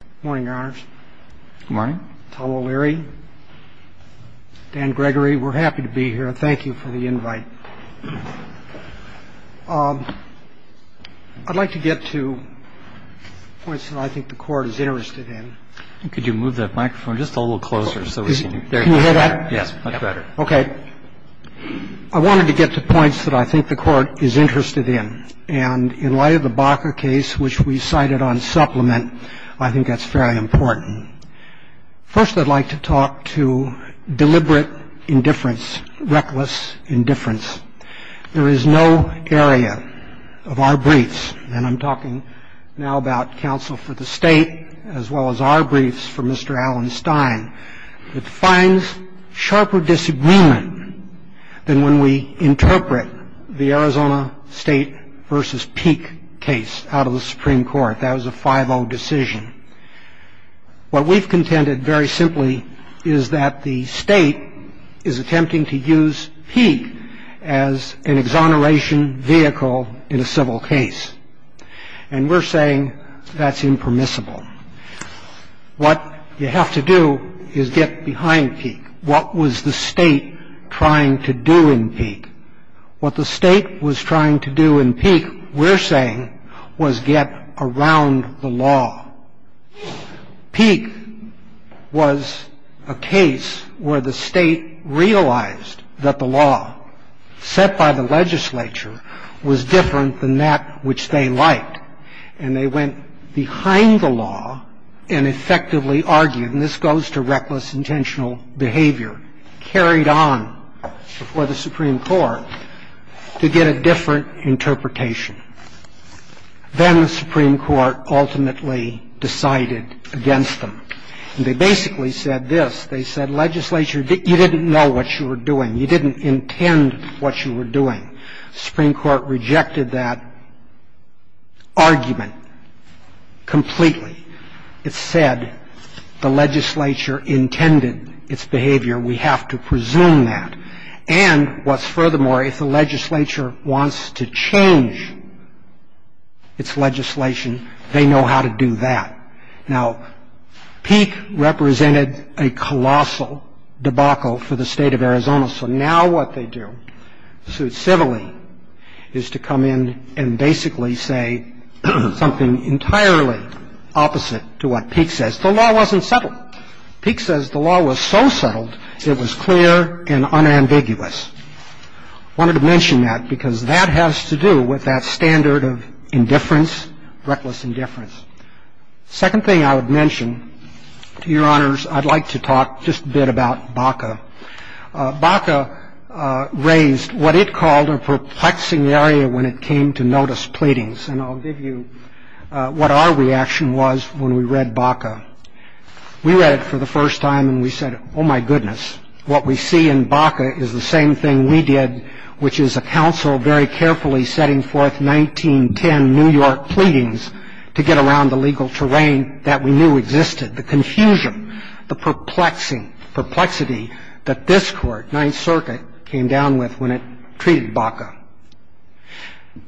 Good morning, Your Honors. Good morning. Tom O'Leary, Dan Gregory, we're happy to be here, and thank you for the invite. I'd like to get to points that I think the Court is interested in. Could you move that microphone just a little closer so we can see you? Can you hear that? Yes, much better. Okay. I wanted to get to points that I think the Court is interested in, and in light of the Baca case, which we cited on supplement, I think that's fairly important. First, I'd like to talk to deliberate indifference, reckless indifference. There is no area of our briefs, and I'm talking now about counsel for the state as well as our briefs for Mr. Allen Stein, that finds sharper disagreement than when we interpret the Arizona State v. Peek case out of the Supreme Court. That was a 5-0 decision. What we've contended very simply is that the state is attempting to use Peek as an exoneration vehicle in a civil case, and we're saying that's impermissible. What you have to do is get behind Peek. What the state was trying to do in Peek, we're saying, was get around the law. Peek was a case where the state realized that the law set by the legislature was different than that which they liked, and they went behind the law and effectively argued, and this goes to reckless intentional behavior, carried on before the Supreme Court to get a different interpretation. Then the Supreme Court ultimately decided against them, and they basically said this. They said, legislature, you didn't know what you were doing. You didn't intend what you were doing. The Supreme Court rejected that argument completely. It said the legislature intended its behavior. We have to presume that. And what's furthermore, if the legislature wants to change its legislation, they know how to do that. Now, Peek represented a colossal debacle for the State of Arizona, so now what they do, suit civilly, is to come in and basically say something entirely opposite to what Peek says. The law wasn't settled. Peek says the law was so settled it was clear and unambiguous. I wanted to mention that because that has to do with that standard of indifference, reckless indifference. The second thing I would mention, Your Honors, I'd like to talk just a bit about BACA. BACA raised what it called a perplexing area when it came to notice pleadings, and I'll give you what our reaction was when we read BACA. We read it for the first time, and we said, oh, my goodness. What we see in BACA is the same thing we did, which is a council very carefully setting forth 1910 New York pleadings to get around the legal terrain that we knew existed. The confusion, the perplexing perplexity that this Court, Ninth Circuit, came down with when it treated BACA.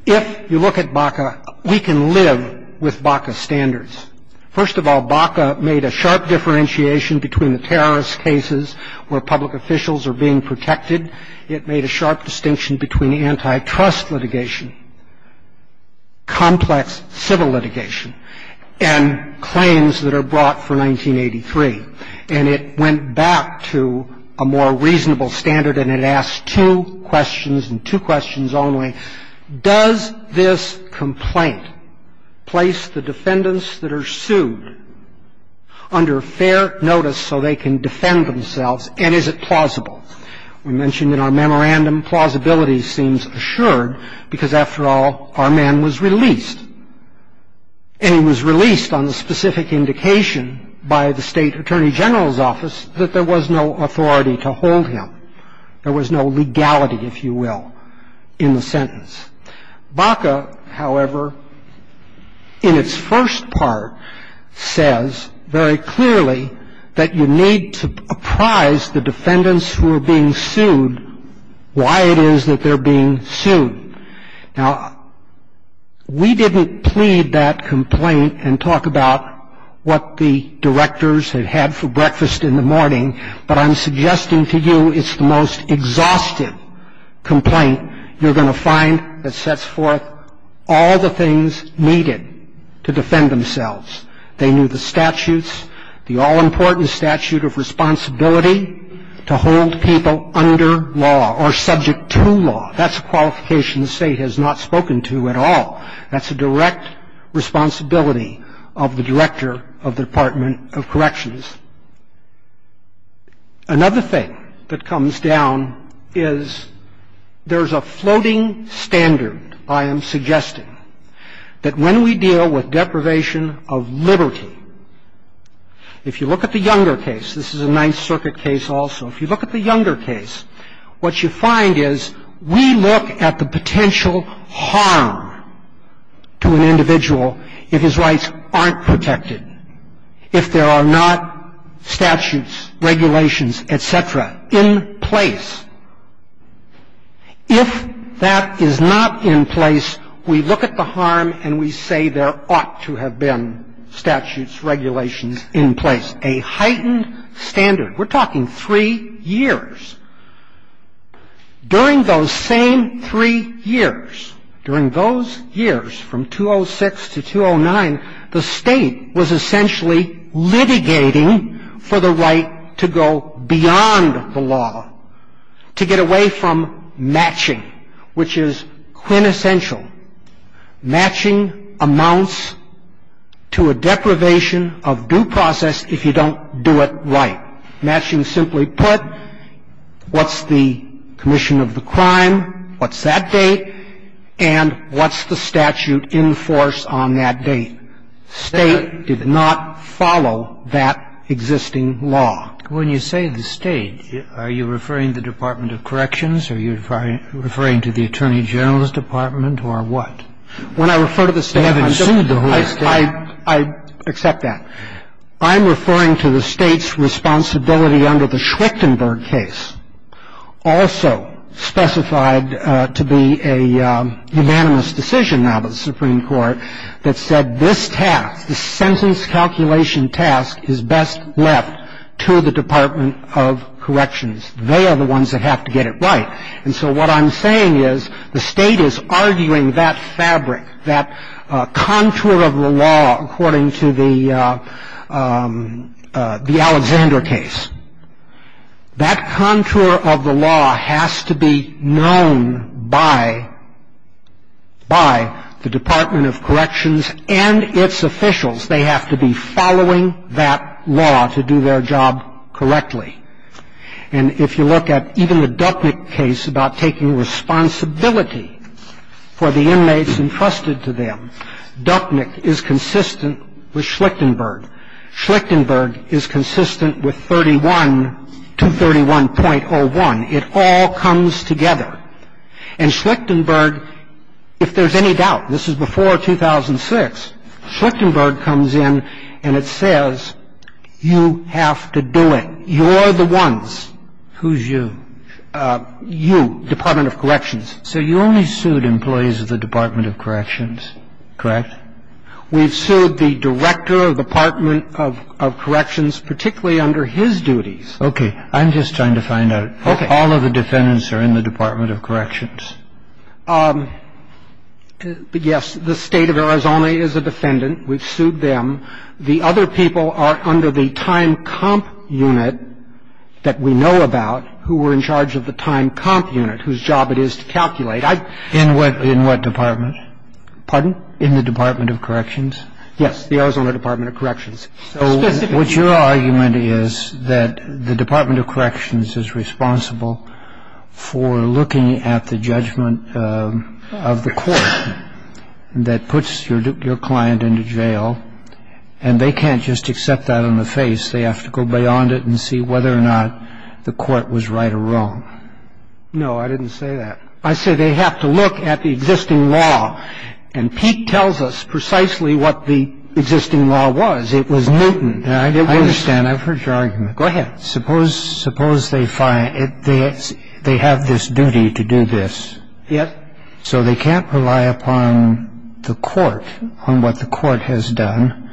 If you look at BACA, we can live with BACA standards. First of all, BACA made a sharp differentiation between the terrorist cases where public officials are being protected. It made a sharp distinction between antitrust litigation, complex civil litigation, and claims that are brought for 1983. And it went back to a more reasonable standard, and it asked two questions, and two questions only. Does this complaint place the defendants that are sued under fair notice so they can defend themselves, and is it plausible? We mentioned in our memorandum plausibility seems assured because, after all, our man was released. And he was released on the specific indication by the State Attorney General's office that there was no authority to hold him. There was no legality, if you will, in the sentence. BACA, however, in its first part says very clearly that you need to apprise the defendants who are being sued why it is that they're being sued. Now, we didn't plead that complaint and talk about what the directors had had for breakfast in the morning, but I'm suggesting to you it's the most exhaustive complaint you're going to find that sets forth all the things needed to defend themselves. They knew the statutes, the all-important statute of responsibility to hold people under law or subject to law. That's a qualification the State has not spoken to at all. That's a direct responsibility of the director of the Department of Corrections. Another thing that comes down is there's a floating standard, I am suggesting, that when we deal with deprivation of liberty, if you look at the Younger case, this is a Ninth Circuit case also, if you look at the Younger case, what you find is we look at the potential harm to an individual if his rights aren't protected, if there are not statutes, regulations, et cetera, in place. If that is not in place, we look at the harm and we say there ought to have been statutes, regulations in place, a heightened standard. We're talking three years. During those same three years, during those years from 206 to 209, the State was essentially litigating for the right to go beyond the law, to get away from matching, which is quintessential. Matching amounts to a deprivation of due process if you don't do it right. Matching simply put, what's the commission of the crime, what's that date, and what's the statute in force on that date. State did not follow that existing law. When you say the State, are you referring to the Department of Corrections, are you referring to the Attorney General's Department, or what? When I refer to the State, I'm just — You haven't sued the whole State. I accept that. I'm referring to the State's responsibility under the Schwichtenberg case, also specified to be a unanimous decision now by the Supreme Court, that said this task, the sentence calculation task, is best left to the Department of Corrections. They are the ones that have to get it right. And so what I'm saying is the State is arguing that fabric, that contour of the law, according to the Alexander case. That contour of the law has to be known by the Department of Corrections and its officials. They have to be following that law to do their job correctly. And if you look at even the Ducknick case about taking responsibility for the inmates entrusted to them, Ducknick is consistent with Schwichtenberg. Schwichtenberg is consistent with 31, 231.01. It all comes together. And Schwichtenberg, if there's any doubt, this is before 2006, Schwichtenberg comes in and it says you have to do it. You're the ones. Who's you? You, Department of Corrections. So you only sued employees of the Department of Corrections, correct? We've sued the director of the Department of Corrections, particularly under his duties. Okay. I'm just trying to find out. Okay. All of the defendants are in the Department of Corrections? Yes. The State of Arizona is a defendant. We've sued them. The other people are under the time comp unit that we know about who were in charge of the time comp unit, whose job it is to calculate. In what department? Pardon? In the Department of Corrections? Yes, the Arizona Department of Corrections. So what your argument is that the Department of Corrections is responsible for looking at the judgment of the court that puts your client into jail, and they can't just accept that on the face. They have to go beyond it and see whether or not the court was right or wrong. No, I didn't say that. I said they have to look at the existing law. And Pete tells us precisely what the existing law was. It was Newton. I understand. I've heard your argument. Go ahead. Suppose they have this duty to do this. Yes. So they can't rely upon the court on what the court has done,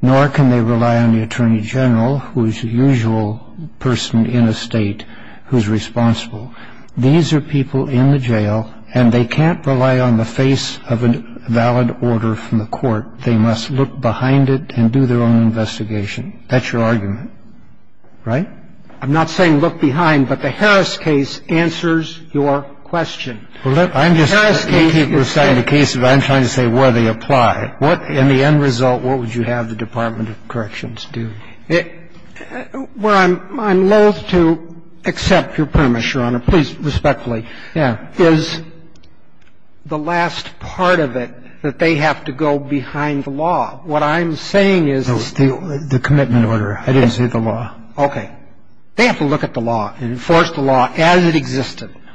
nor can they rely on the Attorney General, who is the usual person in a state who is responsible. These are people in the jail, and they can't rely on the face of a valid order from the court. They must look behind it and do their own investigation. That's your argument. Right? I'm not saying look behind, but the Harris case answers your question. Well, let me keep reciting the case, but I'm trying to say where they apply. What, in the end result, what would you have the Department of Corrections do? Well, I'm loathe to accept your premise, Your Honor. Please, respectfully. Yeah. Well,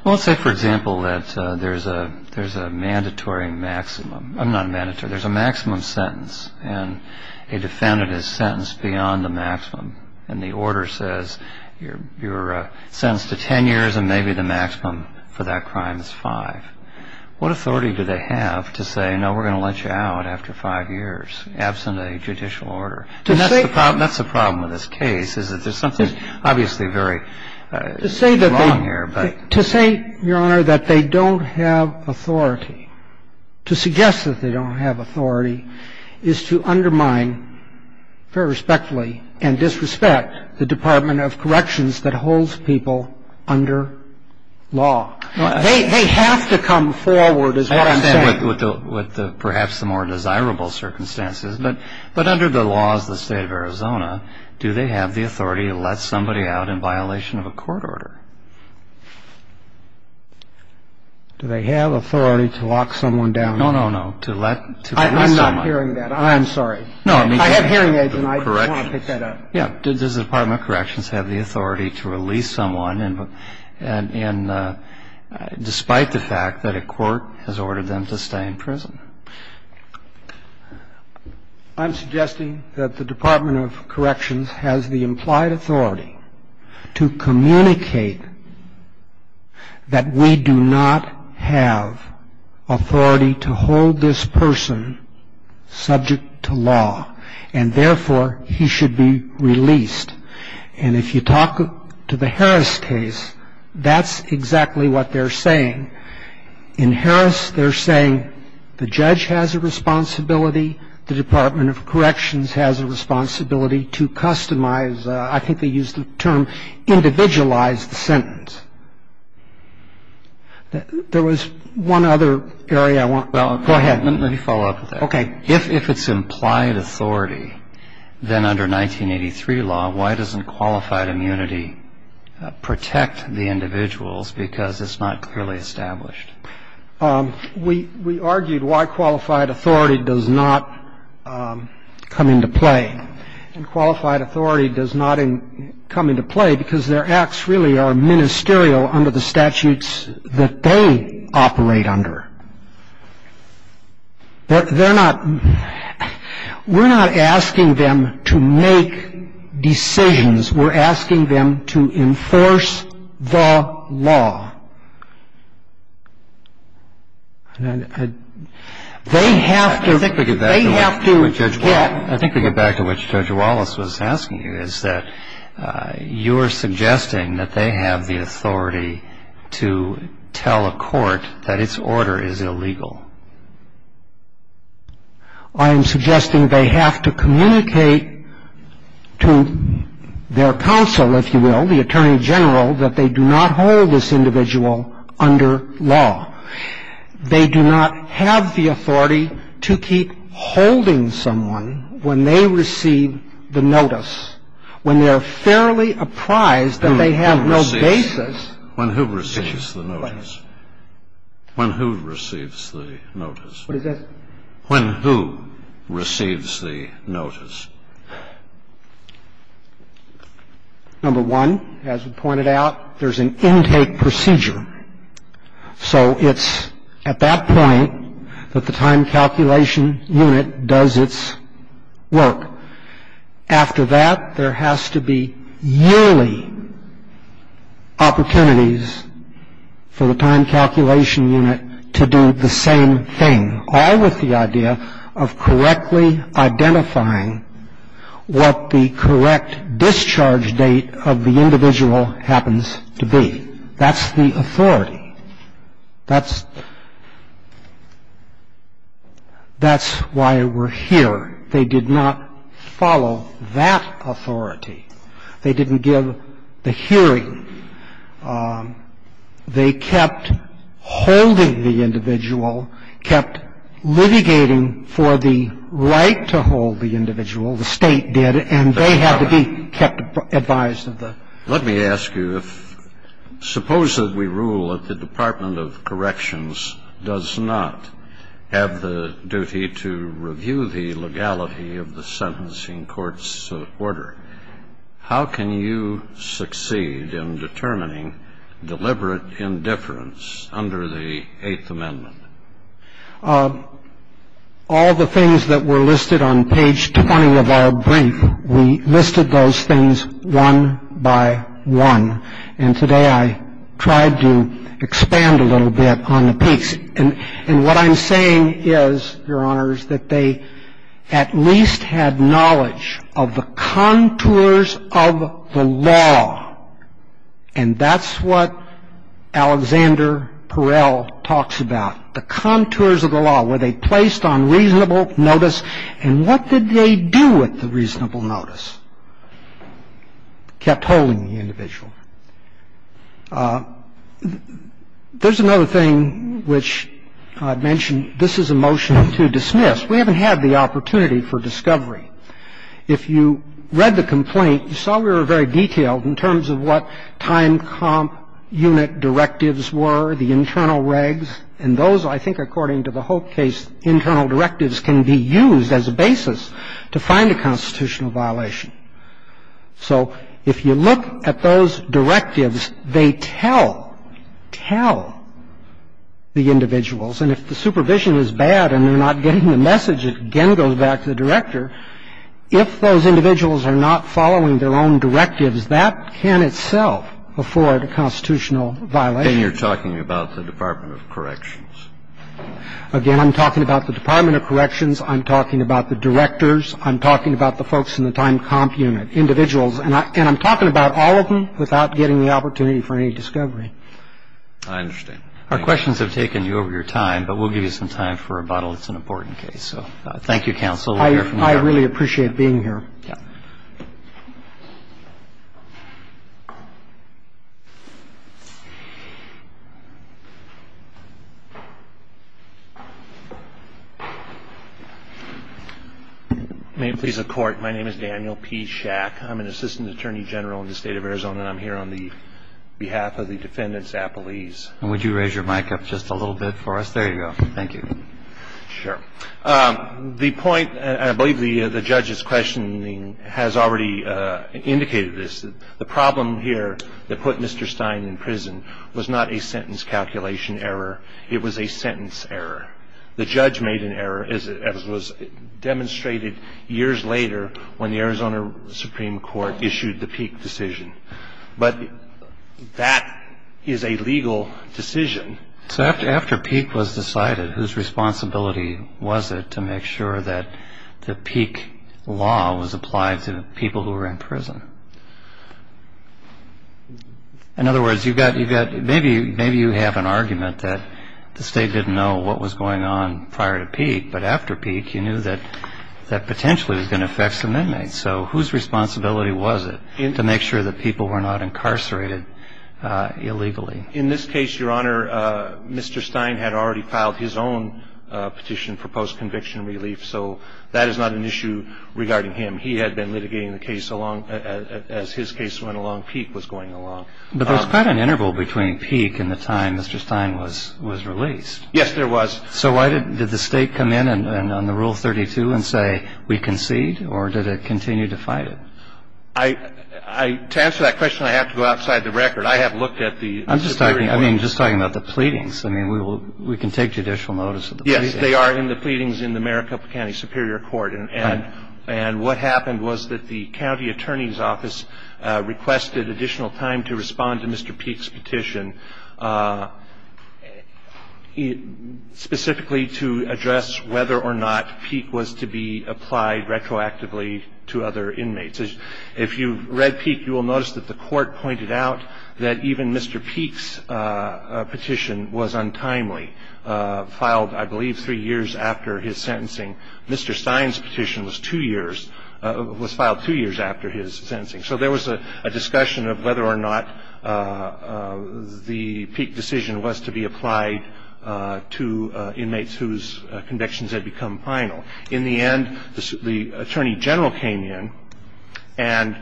let's say, for example, that there's a mandatory maximum. I'm not a mandatory. There's a maximum sentence, and a defendant is sentenced beyond the maximum, and the order says you're sentenced to 10 years and maybe the maximum for that crime. I'm not a mandatory. I'm not a mandatory. and the maximum is 10 years and maybe the maximum is five. What authority do they have to say, no, we're going to let you out after five years, absent a judicial order? And that's the problem with this case is that there's something obviously very wrong here. Law. They have to come forward is what I'm saying. I understand with perhaps the more desirable circumstances. But under the laws of the state of Arizona, do they have the authority to let somebody out in violation of a court order? Do they have authority to lock someone down? No, no, no. To release someone. I'm not hearing that. I'm sorry. I have hearing aids and I don't want to pick that up. Yeah, does the Department of Corrections have the authority to release someone despite the fact that a court has ordered them to stay in prison? I'm suggesting that the Department of Corrections has the implied authority to communicate that we do not have authority to hold this person subject to law and therefore he should be released. And if you talk to the Harris case, that's exactly what they're saying. In Harris, they're saying the judge has a responsibility, the Department of Corrections has a responsibility to customize, I think they use the term individualize the sentence. There was one other area I want to go ahead. Let me follow up with that. Okay. If it's implied authority, then under 1983 law, why doesn't qualified immunity protect the individuals because it's not clearly established? We argued why qualified authority does not come into play. And qualified authority does not come into play because their acts really are ministerial under the statutes that they operate under. But they're not, we're not asking them to make decisions. We're asking them to enforce the law. They have to, they have to get. I think we get back to what Judge Wallace was asking you, is that you're suggesting that they have the authority to tell a court that its order is illegal. I am suggesting they have to communicate to their counsel, if you will, the Attorney General, that they do not hold this individual under law. They do not have the authority to keep holding someone when they receive the notice. When they're fairly apprised that they have no basis. When who receives the notice? When who receives the notice? What is that? When who receives the notice? Number one, as we pointed out, there's an intake procedure. So it's at that point that the time calculation unit does its work. After that, there has to be yearly opportunities for the time calculation unit to do the same thing. All with the idea of correctly identifying what the correct discharge date of the individual happens to be. That's the authority. That's why we're here. They did not follow that authority. They didn't give the hearing. They kept holding the individual, kept litigating for the right to hold the individual, the State did, and they had to be kept advised of the. Let me ask you, suppose that we rule that the Department of Corrections does not have the duty to review the legality of the sentencing court's order. How can you succeed in determining deliberate indifference under the Eighth Amendment? All the things that were listed on page 20 of our brief, we listed those things one by one. And today I tried to expand a little bit on the piece. And what I'm saying is, Your Honors, that they at least had knowledge of the contours of the law. And that's what Alexander Perel talks about, the contours of the law, where they placed on reasonable notice. And what did they do with the reasonable notice? Kept holding the individual. There's another thing which I've mentioned. This is a motion to dismiss. We haven't had the opportunity for discovery. If you read the complaint, you saw we were very detailed in terms of what time comp unit directives were, the internal regs. And those, I think according to the whole case, internal directives can be used as a basis to find a constitutional violation. So if you look at those directives, they tell, tell the individuals. And if the supervision is bad and they're not getting the message, it again goes back to the director. If those individuals are not following their own directives, that can itself afford a constitutional violation. And you're talking about the Department of Corrections. Again, I'm talking about the Department of Corrections. I'm talking about the directors. I'm talking about the folks in the time comp unit, individuals. And I'm talking about all of them without getting the opportunity for any discovery. I understand. Our questions have taken you over your time, but we'll give you some time for rebuttal. It's an important case. So thank you, counsel. I really appreciate being here. Yeah. May it please the Court. My name is Daniel P. Schack. I'm an assistant attorney general in the State of Arizona. And I'm here on the behalf of the defendants' appellees. And would you raise your mic up just a little bit for us? There you go. Thank you. Sure. The point, and I believe the judge's questioning has already indicated this. The problem here that put Mr. Stein in prison was not a sentence calculation error. It was a sentence error. The judge made an error, as was demonstrated years later when the Arizona Supreme Court issued the Peek decision. But that is a legal decision. So after Peek was decided, whose responsibility was it to make sure that the Peek law was applied to people who were in prison? In other words, maybe you have an argument that the state didn't know what was going on prior to Peek, but after Peek you knew that that potentially was going to affect some inmates. So whose responsibility was it to make sure that people were not incarcerated illegally? In this case, Your Honor, Mr. Stein had already filed his own petition for post-conviction relief. So that is not an issue regarding him. He had been litigating the case as his case went along. Peek was going along. But there was quite an interval between Peek and the time Mr. Stein was released. Yes, there was. So why did the state come in on the Rule 32 and say, we concede? Or did it continue to fight it? To answer that question, I have to go outside the record. I have looked at the Superior Court. I'm just talking about the pleadings. I mean, we can take judicial notice of the pleadings. Yes, they are in the pleadings in the Maricopa County Superior Court. And what happened was that the county attorney's office requested additional time to respond to Mr. Peek's petition. Specifically to address whether or not Peek was to be applied retroactively to other inmates. If you read Peek, you will notice that the court pointed out that even Mr. Peek's petition was untimely, filed, I believe, three years after his sentencing. Mr. Stein's petition was two years, was filed two years after his sentencing. So there was a discussion of whether or not the Peek decision was to be applied to inmates whose convictions had become final. In the end, the Attorney General came in and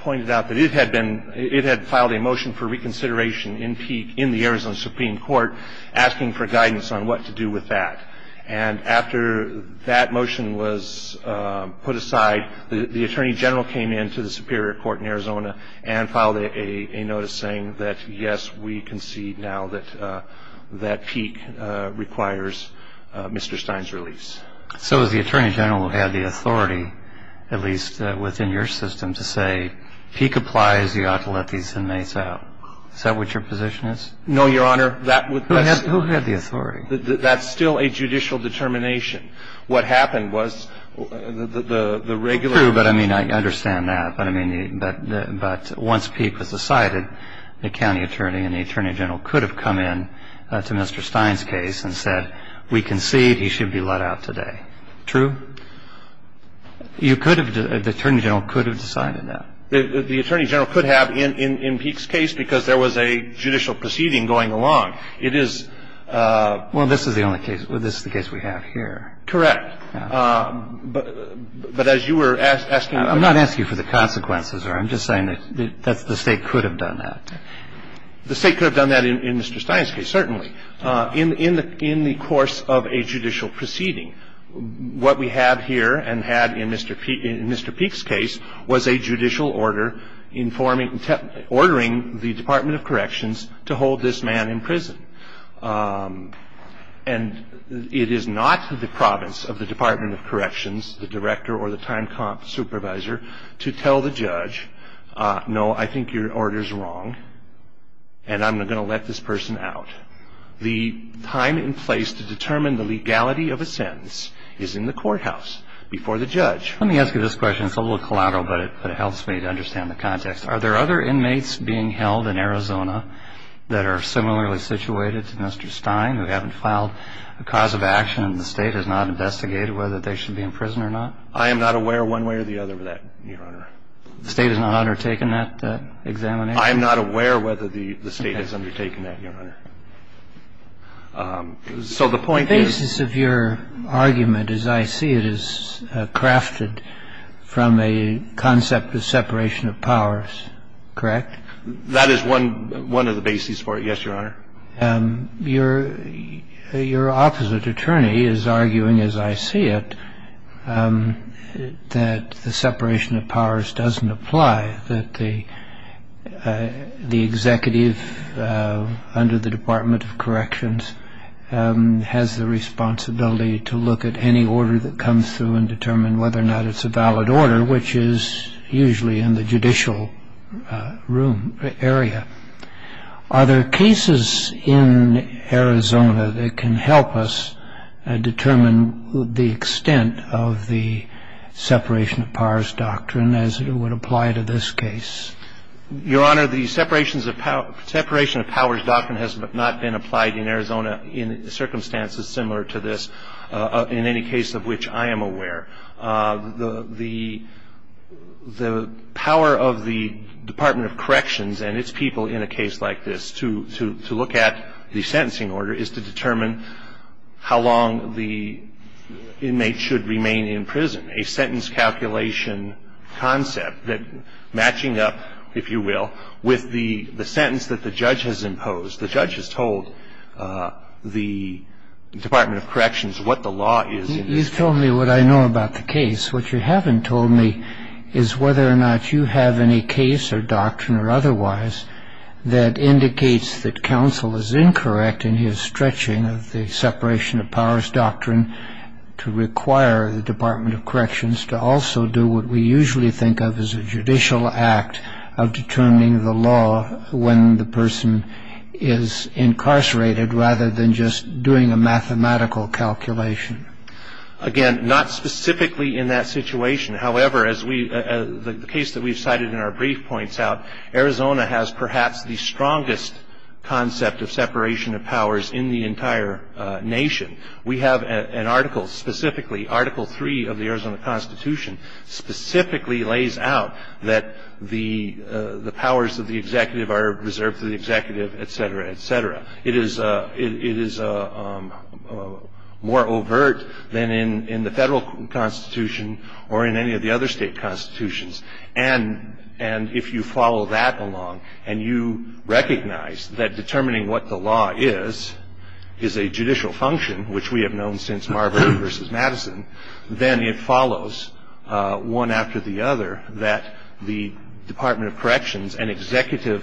pointed out that it had filed a motion for reconsideration in Peek, in the Arizona Supreme Court, asking for guidance on what to do with that. And after that motion was put aside, the Attorney General came into the Superior Court in Arizona and filed a notice saying that, yes, we concede now that Peek requires Mr. Stein's release. So the Attorney General had the authority, at least within your system, to say, Peek applies. You ought to let these inmates out. Is that what your position is? No, Your Honor. Who had the authority? That's still a judicial determination. What happened was the regular ---- True, but I mean, I understand that. But once Peek was decided, the county attorney and the Attorney General could have come in to Mr. Stein's case and said, we concede he should be let out today. True? You could have ---- the Attorney General could have decided that. The Attorney General could have in Peek's case because there was a judicial proceeding going along. It is ---- Well, this is the only case we have here. Correct. But as you were asking ---- I'm not asking for the consequences, Your Honor. I'm just saying that the State could have done that. The State could have done that in Mr. Stein's case, certainly. In the course of a judicial proceeding, what we have here and had in Mr. Peek's case was a judicial order informing ---- ordering the Department of Corrections to hold this man in prison. And it is not the province of the Department of Corrections, the director or the time comp supervisor, to tell the judge, no, I think your order is wrong and I'm going to let this person out. The time and place to determine the legality of a sentence is in the courthouse before the judge. Let me ask you this question. It's a little collateral, but it helps me to understand the context. Are there other inmates being held in Arizona that are similarly situated to Mr. Stein who haven't filed a cause of action and the State has not investigated whether they should be in prison or not? I am not aware one way or the other of that, Your Honor. The State has not undertaken that examination? I am not aware whether the State has undertaken that, Your Honor. So the point is ---- The point is that the separation of powers is crafted from a concept of separation of powers, correct? That is one of the bases for it, yes, Your Honor. Your opposite attorney is arguing, as I see it, that the separation of powers doesn't apply, that the executive under the Department of Corrections has the responsibility to look at any order that comes through and determine whether or not it's a valid order, which is usually in the judicial room, area. Are there cases in Arizona that can help us determine the extent of the separation of powers doctrine as it would apply to this case? Your Honor, the separation of powers doctrine has not been applied in Arizona in circumstances similar to this in any case of which I am aware. The power of the Department of Corrections and its people in a case like this to look at the sentencing order is to determine how long the inmate should remain in prison. And so the separation of powers doctrine is a sentence calculation, a sentence calculation concept matching up, if you will, with the sentence that the judge has imposed. The judge has told the Department of Corrections what the law is in this case. You've told me what I know about the case. What you haven't told me is whether or not you have any case or doctrine or otherwise that indicates that counsel is incorrect in his stretching of the separation of powers doctrine to require the Department of Corrections to also do what we usually think of as a judicial act of determining the law when the person is incarcerated rather than just doing a mathematical calculation. Again, not specifically in that situation. However, as the case that we've cited in our brief points out, Arizona has perhaps the strongest concept of separation of powers in the entire nation. We have an article specifically, Article 3 of the Arizona Constitution, specifically lays out that the powers of the executive are reserved to the executive, et cetera, et cetera. It is more overt than in the federal constitution or in any of the other state constitutions. And if you follow that along and you recognize that determining what the law is, is a judicial function, which we have known since Marbury versus Madison, then it follows one after the other that the Department of Corrections, an executive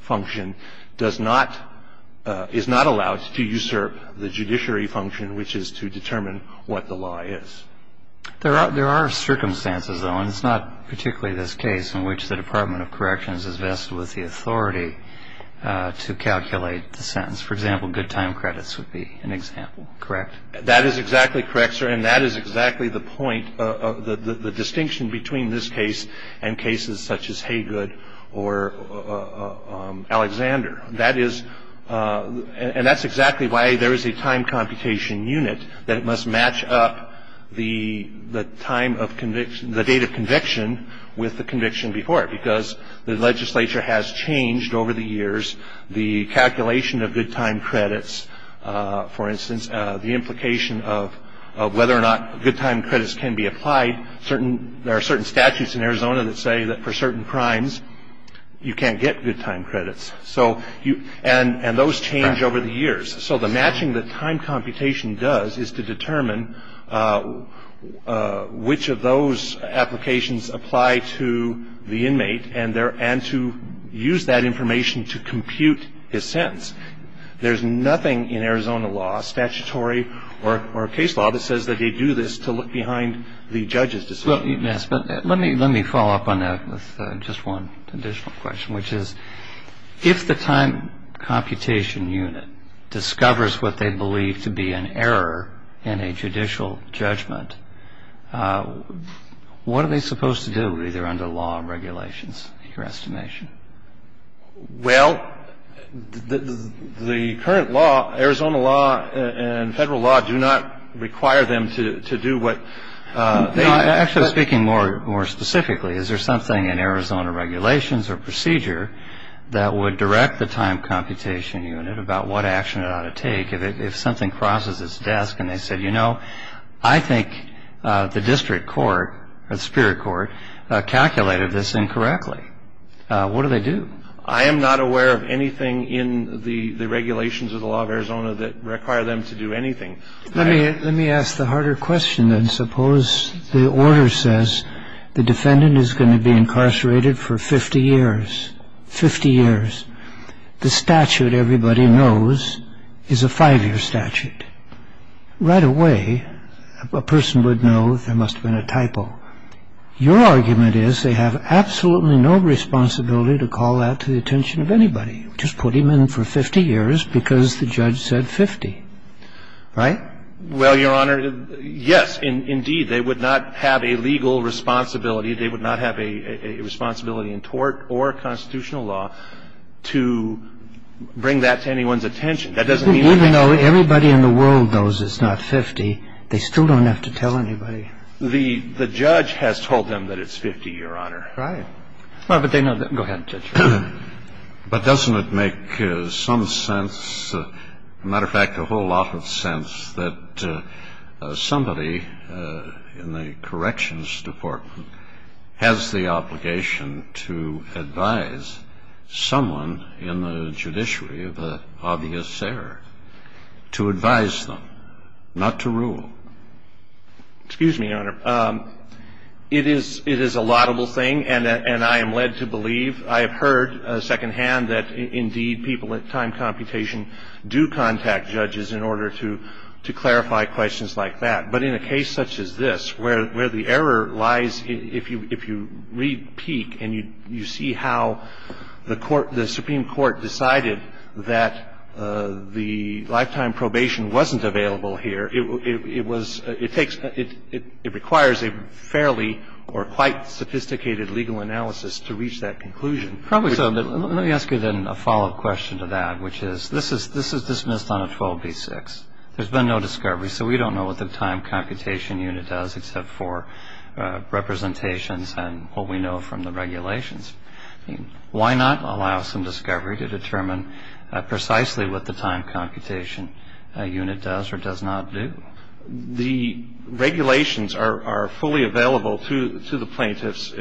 function, does not, is not allowed to usurp the judiciary function, which is to determine what the law is. There are circumstances, though, and it's not particularly this case in which the Department of Corrections is vested with the authority to calculate the sentence. For example, good time credits would be an example, correct? That is exactly correct, sir. And that is exactly the point, the distinction between this case and cases such as Haygood or Alexander. That is, and that's exactly why there is a time computation unit that must match up the time of conviction, the date of conviction with the conviction before it, because the legislature has changed over the years. The calculation of good time credits, for instance, the implication of whether or not good time credits can be applied, there are certain statutes in Arizona that say that for certain crimes you can't get good time credits. And those change over the years. So the matching that time computation does is to determine which of those applications apply to the inmate and to use that information to compute his sentence. There's nothing in Arizona law, statutory or case law, that says that they do this to look behind the judge's decision. Yes, but let me follow up on that with just one additional question, which is if the time computation unit discovers what they believe to be an error in a judicial judgment, what are they supposed to do, either under law or regulations, in your estimation? Well, the current law, Arizona law and federal law, do not require them to do what they... No, I'm actually speaking more specifically. Is there something in Arizona regulations or procedure that would direct the time computation unit about what action it ought to take if something crosses its desk and they said, I think the district court or the superior court calculated this incorrectly. What do they do? I am not aware of anything in the regulations of the law of Arizona that require them to do anything. Let me ask the harder question then. Suppose the order says the defendant is going to be incarcerated for 50 years, 50 years. The statute everybody knows is a five-year statute. Right away, a person would know there must have been a typo. Your argument is they have absolutely no responsibility to call that to the attention of anybody. Just put him in for 50 years because the judge said 50, right? Well, Your Honor, yes, indeed. They would not have a legal responsibility. They would not have a responsibility in tort or constitutional law to bring that to anyone's attention. Even though everybody in the world knows it's not 50, they still don't have to tell anybody. The judge has told them that it's 50, Your Honor. Right. But they know that. Go ahead, Judge. But doesn't it make some sense, a matter of fact, a whole lot of sense, that somebody in the corrections department has the obligation to advise someone in the judiciary of the obvious error, to advise them, not to rule? Excuse me, Your Honor. It is a laudable thing, and I am led to believe, I have heard secondhand, that indeed people at time computation do contact judges in order to clarify questions like that. But in a case such as this, where the error lies, if you repeat and you see how the Supreme Court decided that the lifetime probation wasn't available here, it requires a fairly or quite sophisticated legal analysis to reach that conclusion. Probably so. Let me ask you then a follow-up question to that, which is, this is dismissed on a 12b-6. There's been no discovery, so we don't know what the time computation unit does except for representations and what we know from the regulations. Why not allow some discovery to determine precisely what the time computation unit does or does not do? The regulations are fully available to the plaintiffs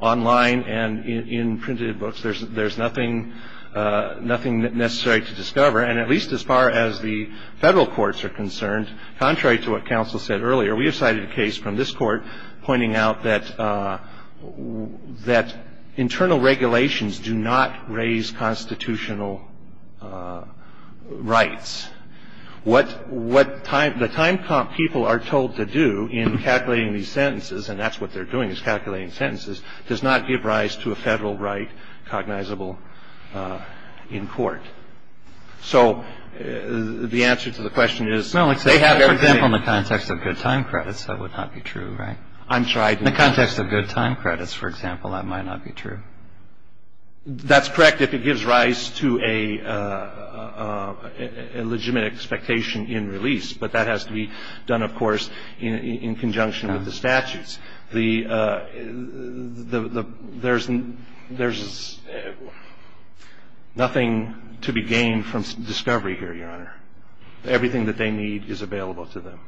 online and in printed books. There's nothing necessary to discover. And at least as far as the federal courts are concerned, contrary to what counsel said earlier, we have cited a case from this court pointing out that internal regulations do not raise constitutional rights. What the time people are told to do in calculating these sentences, and that's what they're doing is calculating sentences, does not give rise to a federal right cognizable in court. So the answer to the question is they have everything. In the context of good time credits, that would not be true, right? In the context of good time credits, for example, that might not be true. That's correct if it gives rise to a legitimate expectation in release, but that has to be done, of course, in conjunction with the statutes. There's nothing to be gained from discovery here, Your Honor. Everything that they need is available to them.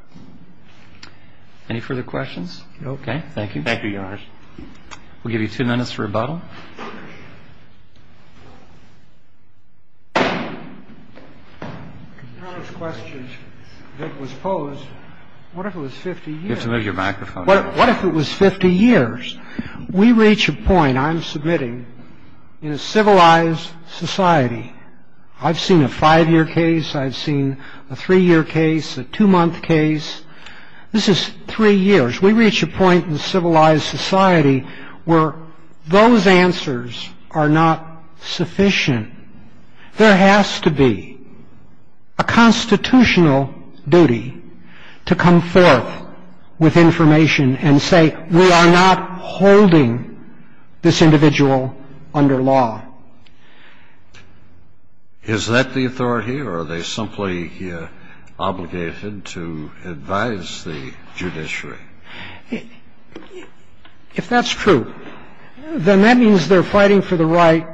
Any further questions? Okay. Thank you. Thank you, Your Honors. We'll give you two minutes to rebuttal. Your Honor's question that was posed, what if it was 50 years? You have to move your microphone. What if it was 50 years? We reach a point, I'm submitting, in a civilized society. I've seen a five-year case. I've seen a three-year case, a two-month case. This is three years. We reach a point in a civilized society where those answers are not sufficient. There has to be a constitutional duty to come forth with information and say we are not holding this individual under law. Is that the authority, or are they simply obligated to advise the judiciary? If that's true, then that means they're fighting for the right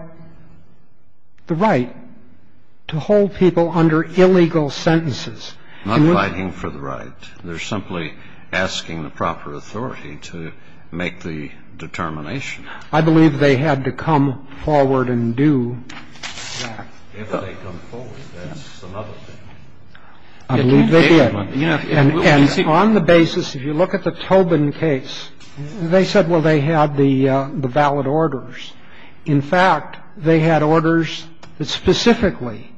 to hold people under illegal sentences. Not fighting for the right. They're simply asking the proper authority to make the determination. I believe they had to come forward and do that. If they come forward, that's another thing. I believe they did. And on the basis, if you look at the Tobin case, they said, well, they had the valid orders. In fact, they had orders that specifically,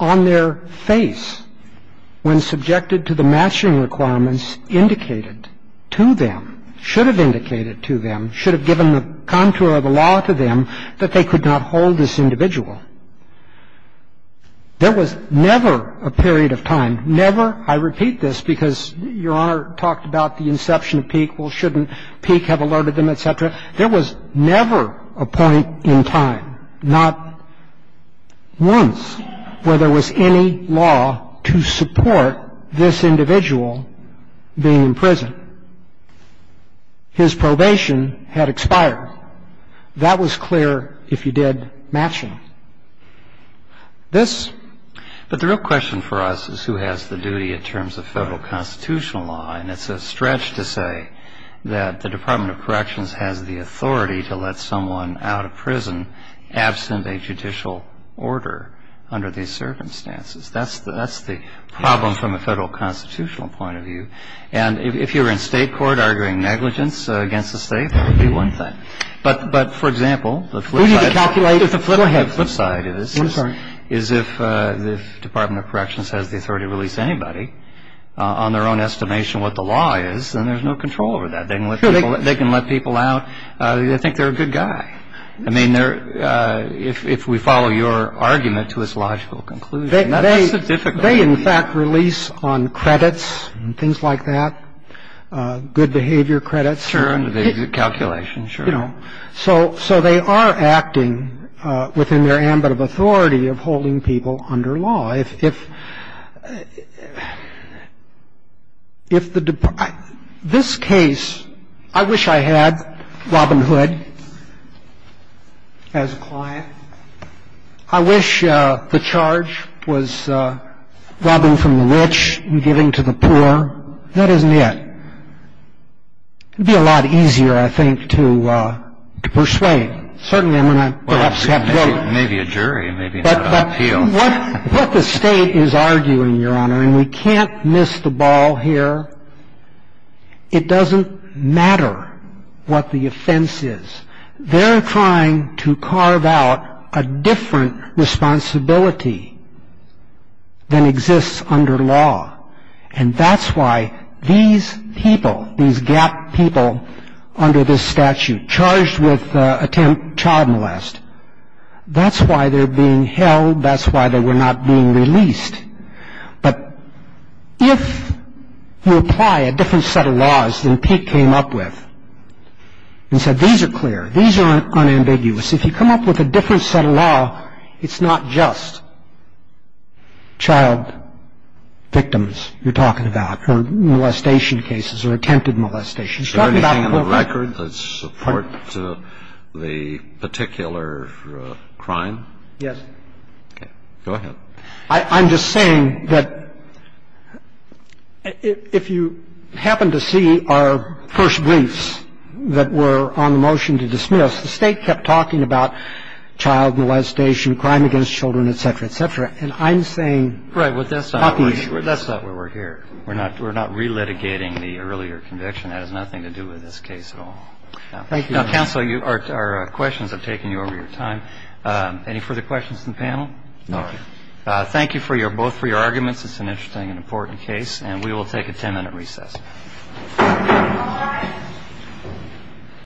on their face, when subjected to the matching requirements, indicated to them, should have indicated to them, should have given the contour of the law to them, that they could not hold this individual. There was never a period of time, never, I repeat this, because Your Honor talked about the inception of PEEQ. Well, shouldn't PEEQ have alerted them, et cetera? There was never a point in time, not once, where there was any law to support this individual being in prison. His probation had expired. That was clear if you did matching. But the real question for us is who has the duty in terms of federal constitutional law. And it's a stretch to say that the Department of Corrections has the authority to let someone out of prison absent a judicial order under these circumstances. That's the problem from a federal constitutional point of view. And if you're in state court arguing negligence against the state, that would be one thing. But, for example, the flip side is if the Department of Corrections has the authority to release anybody on their own estimation what the law is, then there's no control over that. They can let people out. I think they're a good guy. I mean, if we follow your argument to its logical conclusion. That's the difficulty. They, in fact, release on credits and things like that, good behavior credits. Sure. And calculations. Sure. So they are acting within their ambit of authority of holding people under law. I just want to go back to a couple of questions. And I'm going to go back to the other. If the Department of- this case, I wish I had Robin Hood as a client. I wish the charge was robbing from the rich and giving to the poor. That isn't it. It would be a lot easier, I think, to persuade. Certainly, I'm going to perhaps have to go- Maybe a jury, maybe not an appeal. What the state is arguing, Your Honor, and we can't miss the ball here, it doesn't matter what the offense is. They're trying to carve out a different responsibility than exists under law. And that's why these people, these GAP people under this statute, charged with attempt child molest, that's why they're being held, that's why they were not being released. But if you apply a different set of laws than Pete came up with and said, these are clear, these are unambiguous. If you come up with a different set of law, it's not just child victims you're talking about or molestation cases or attempted molestation. Is there anything in the record that supports the particular crime? Yes. Go ahead. I'm just saying that if you happen to see our first briefs that were on the motion to dismiss, the State kept talking about child molestation, crime against children, et cetera, et cetera. And I'm saying- Right. But that's not where we're here. We're not relitigating the earlier conviction. That has nothing to do with this case at all. Thank you. Now, counsel, our questions have taken you over your time. Any further questions from the panel? No. Thank you both for your arguments. It's an interesting and important case. And we will take a 10-minute recess.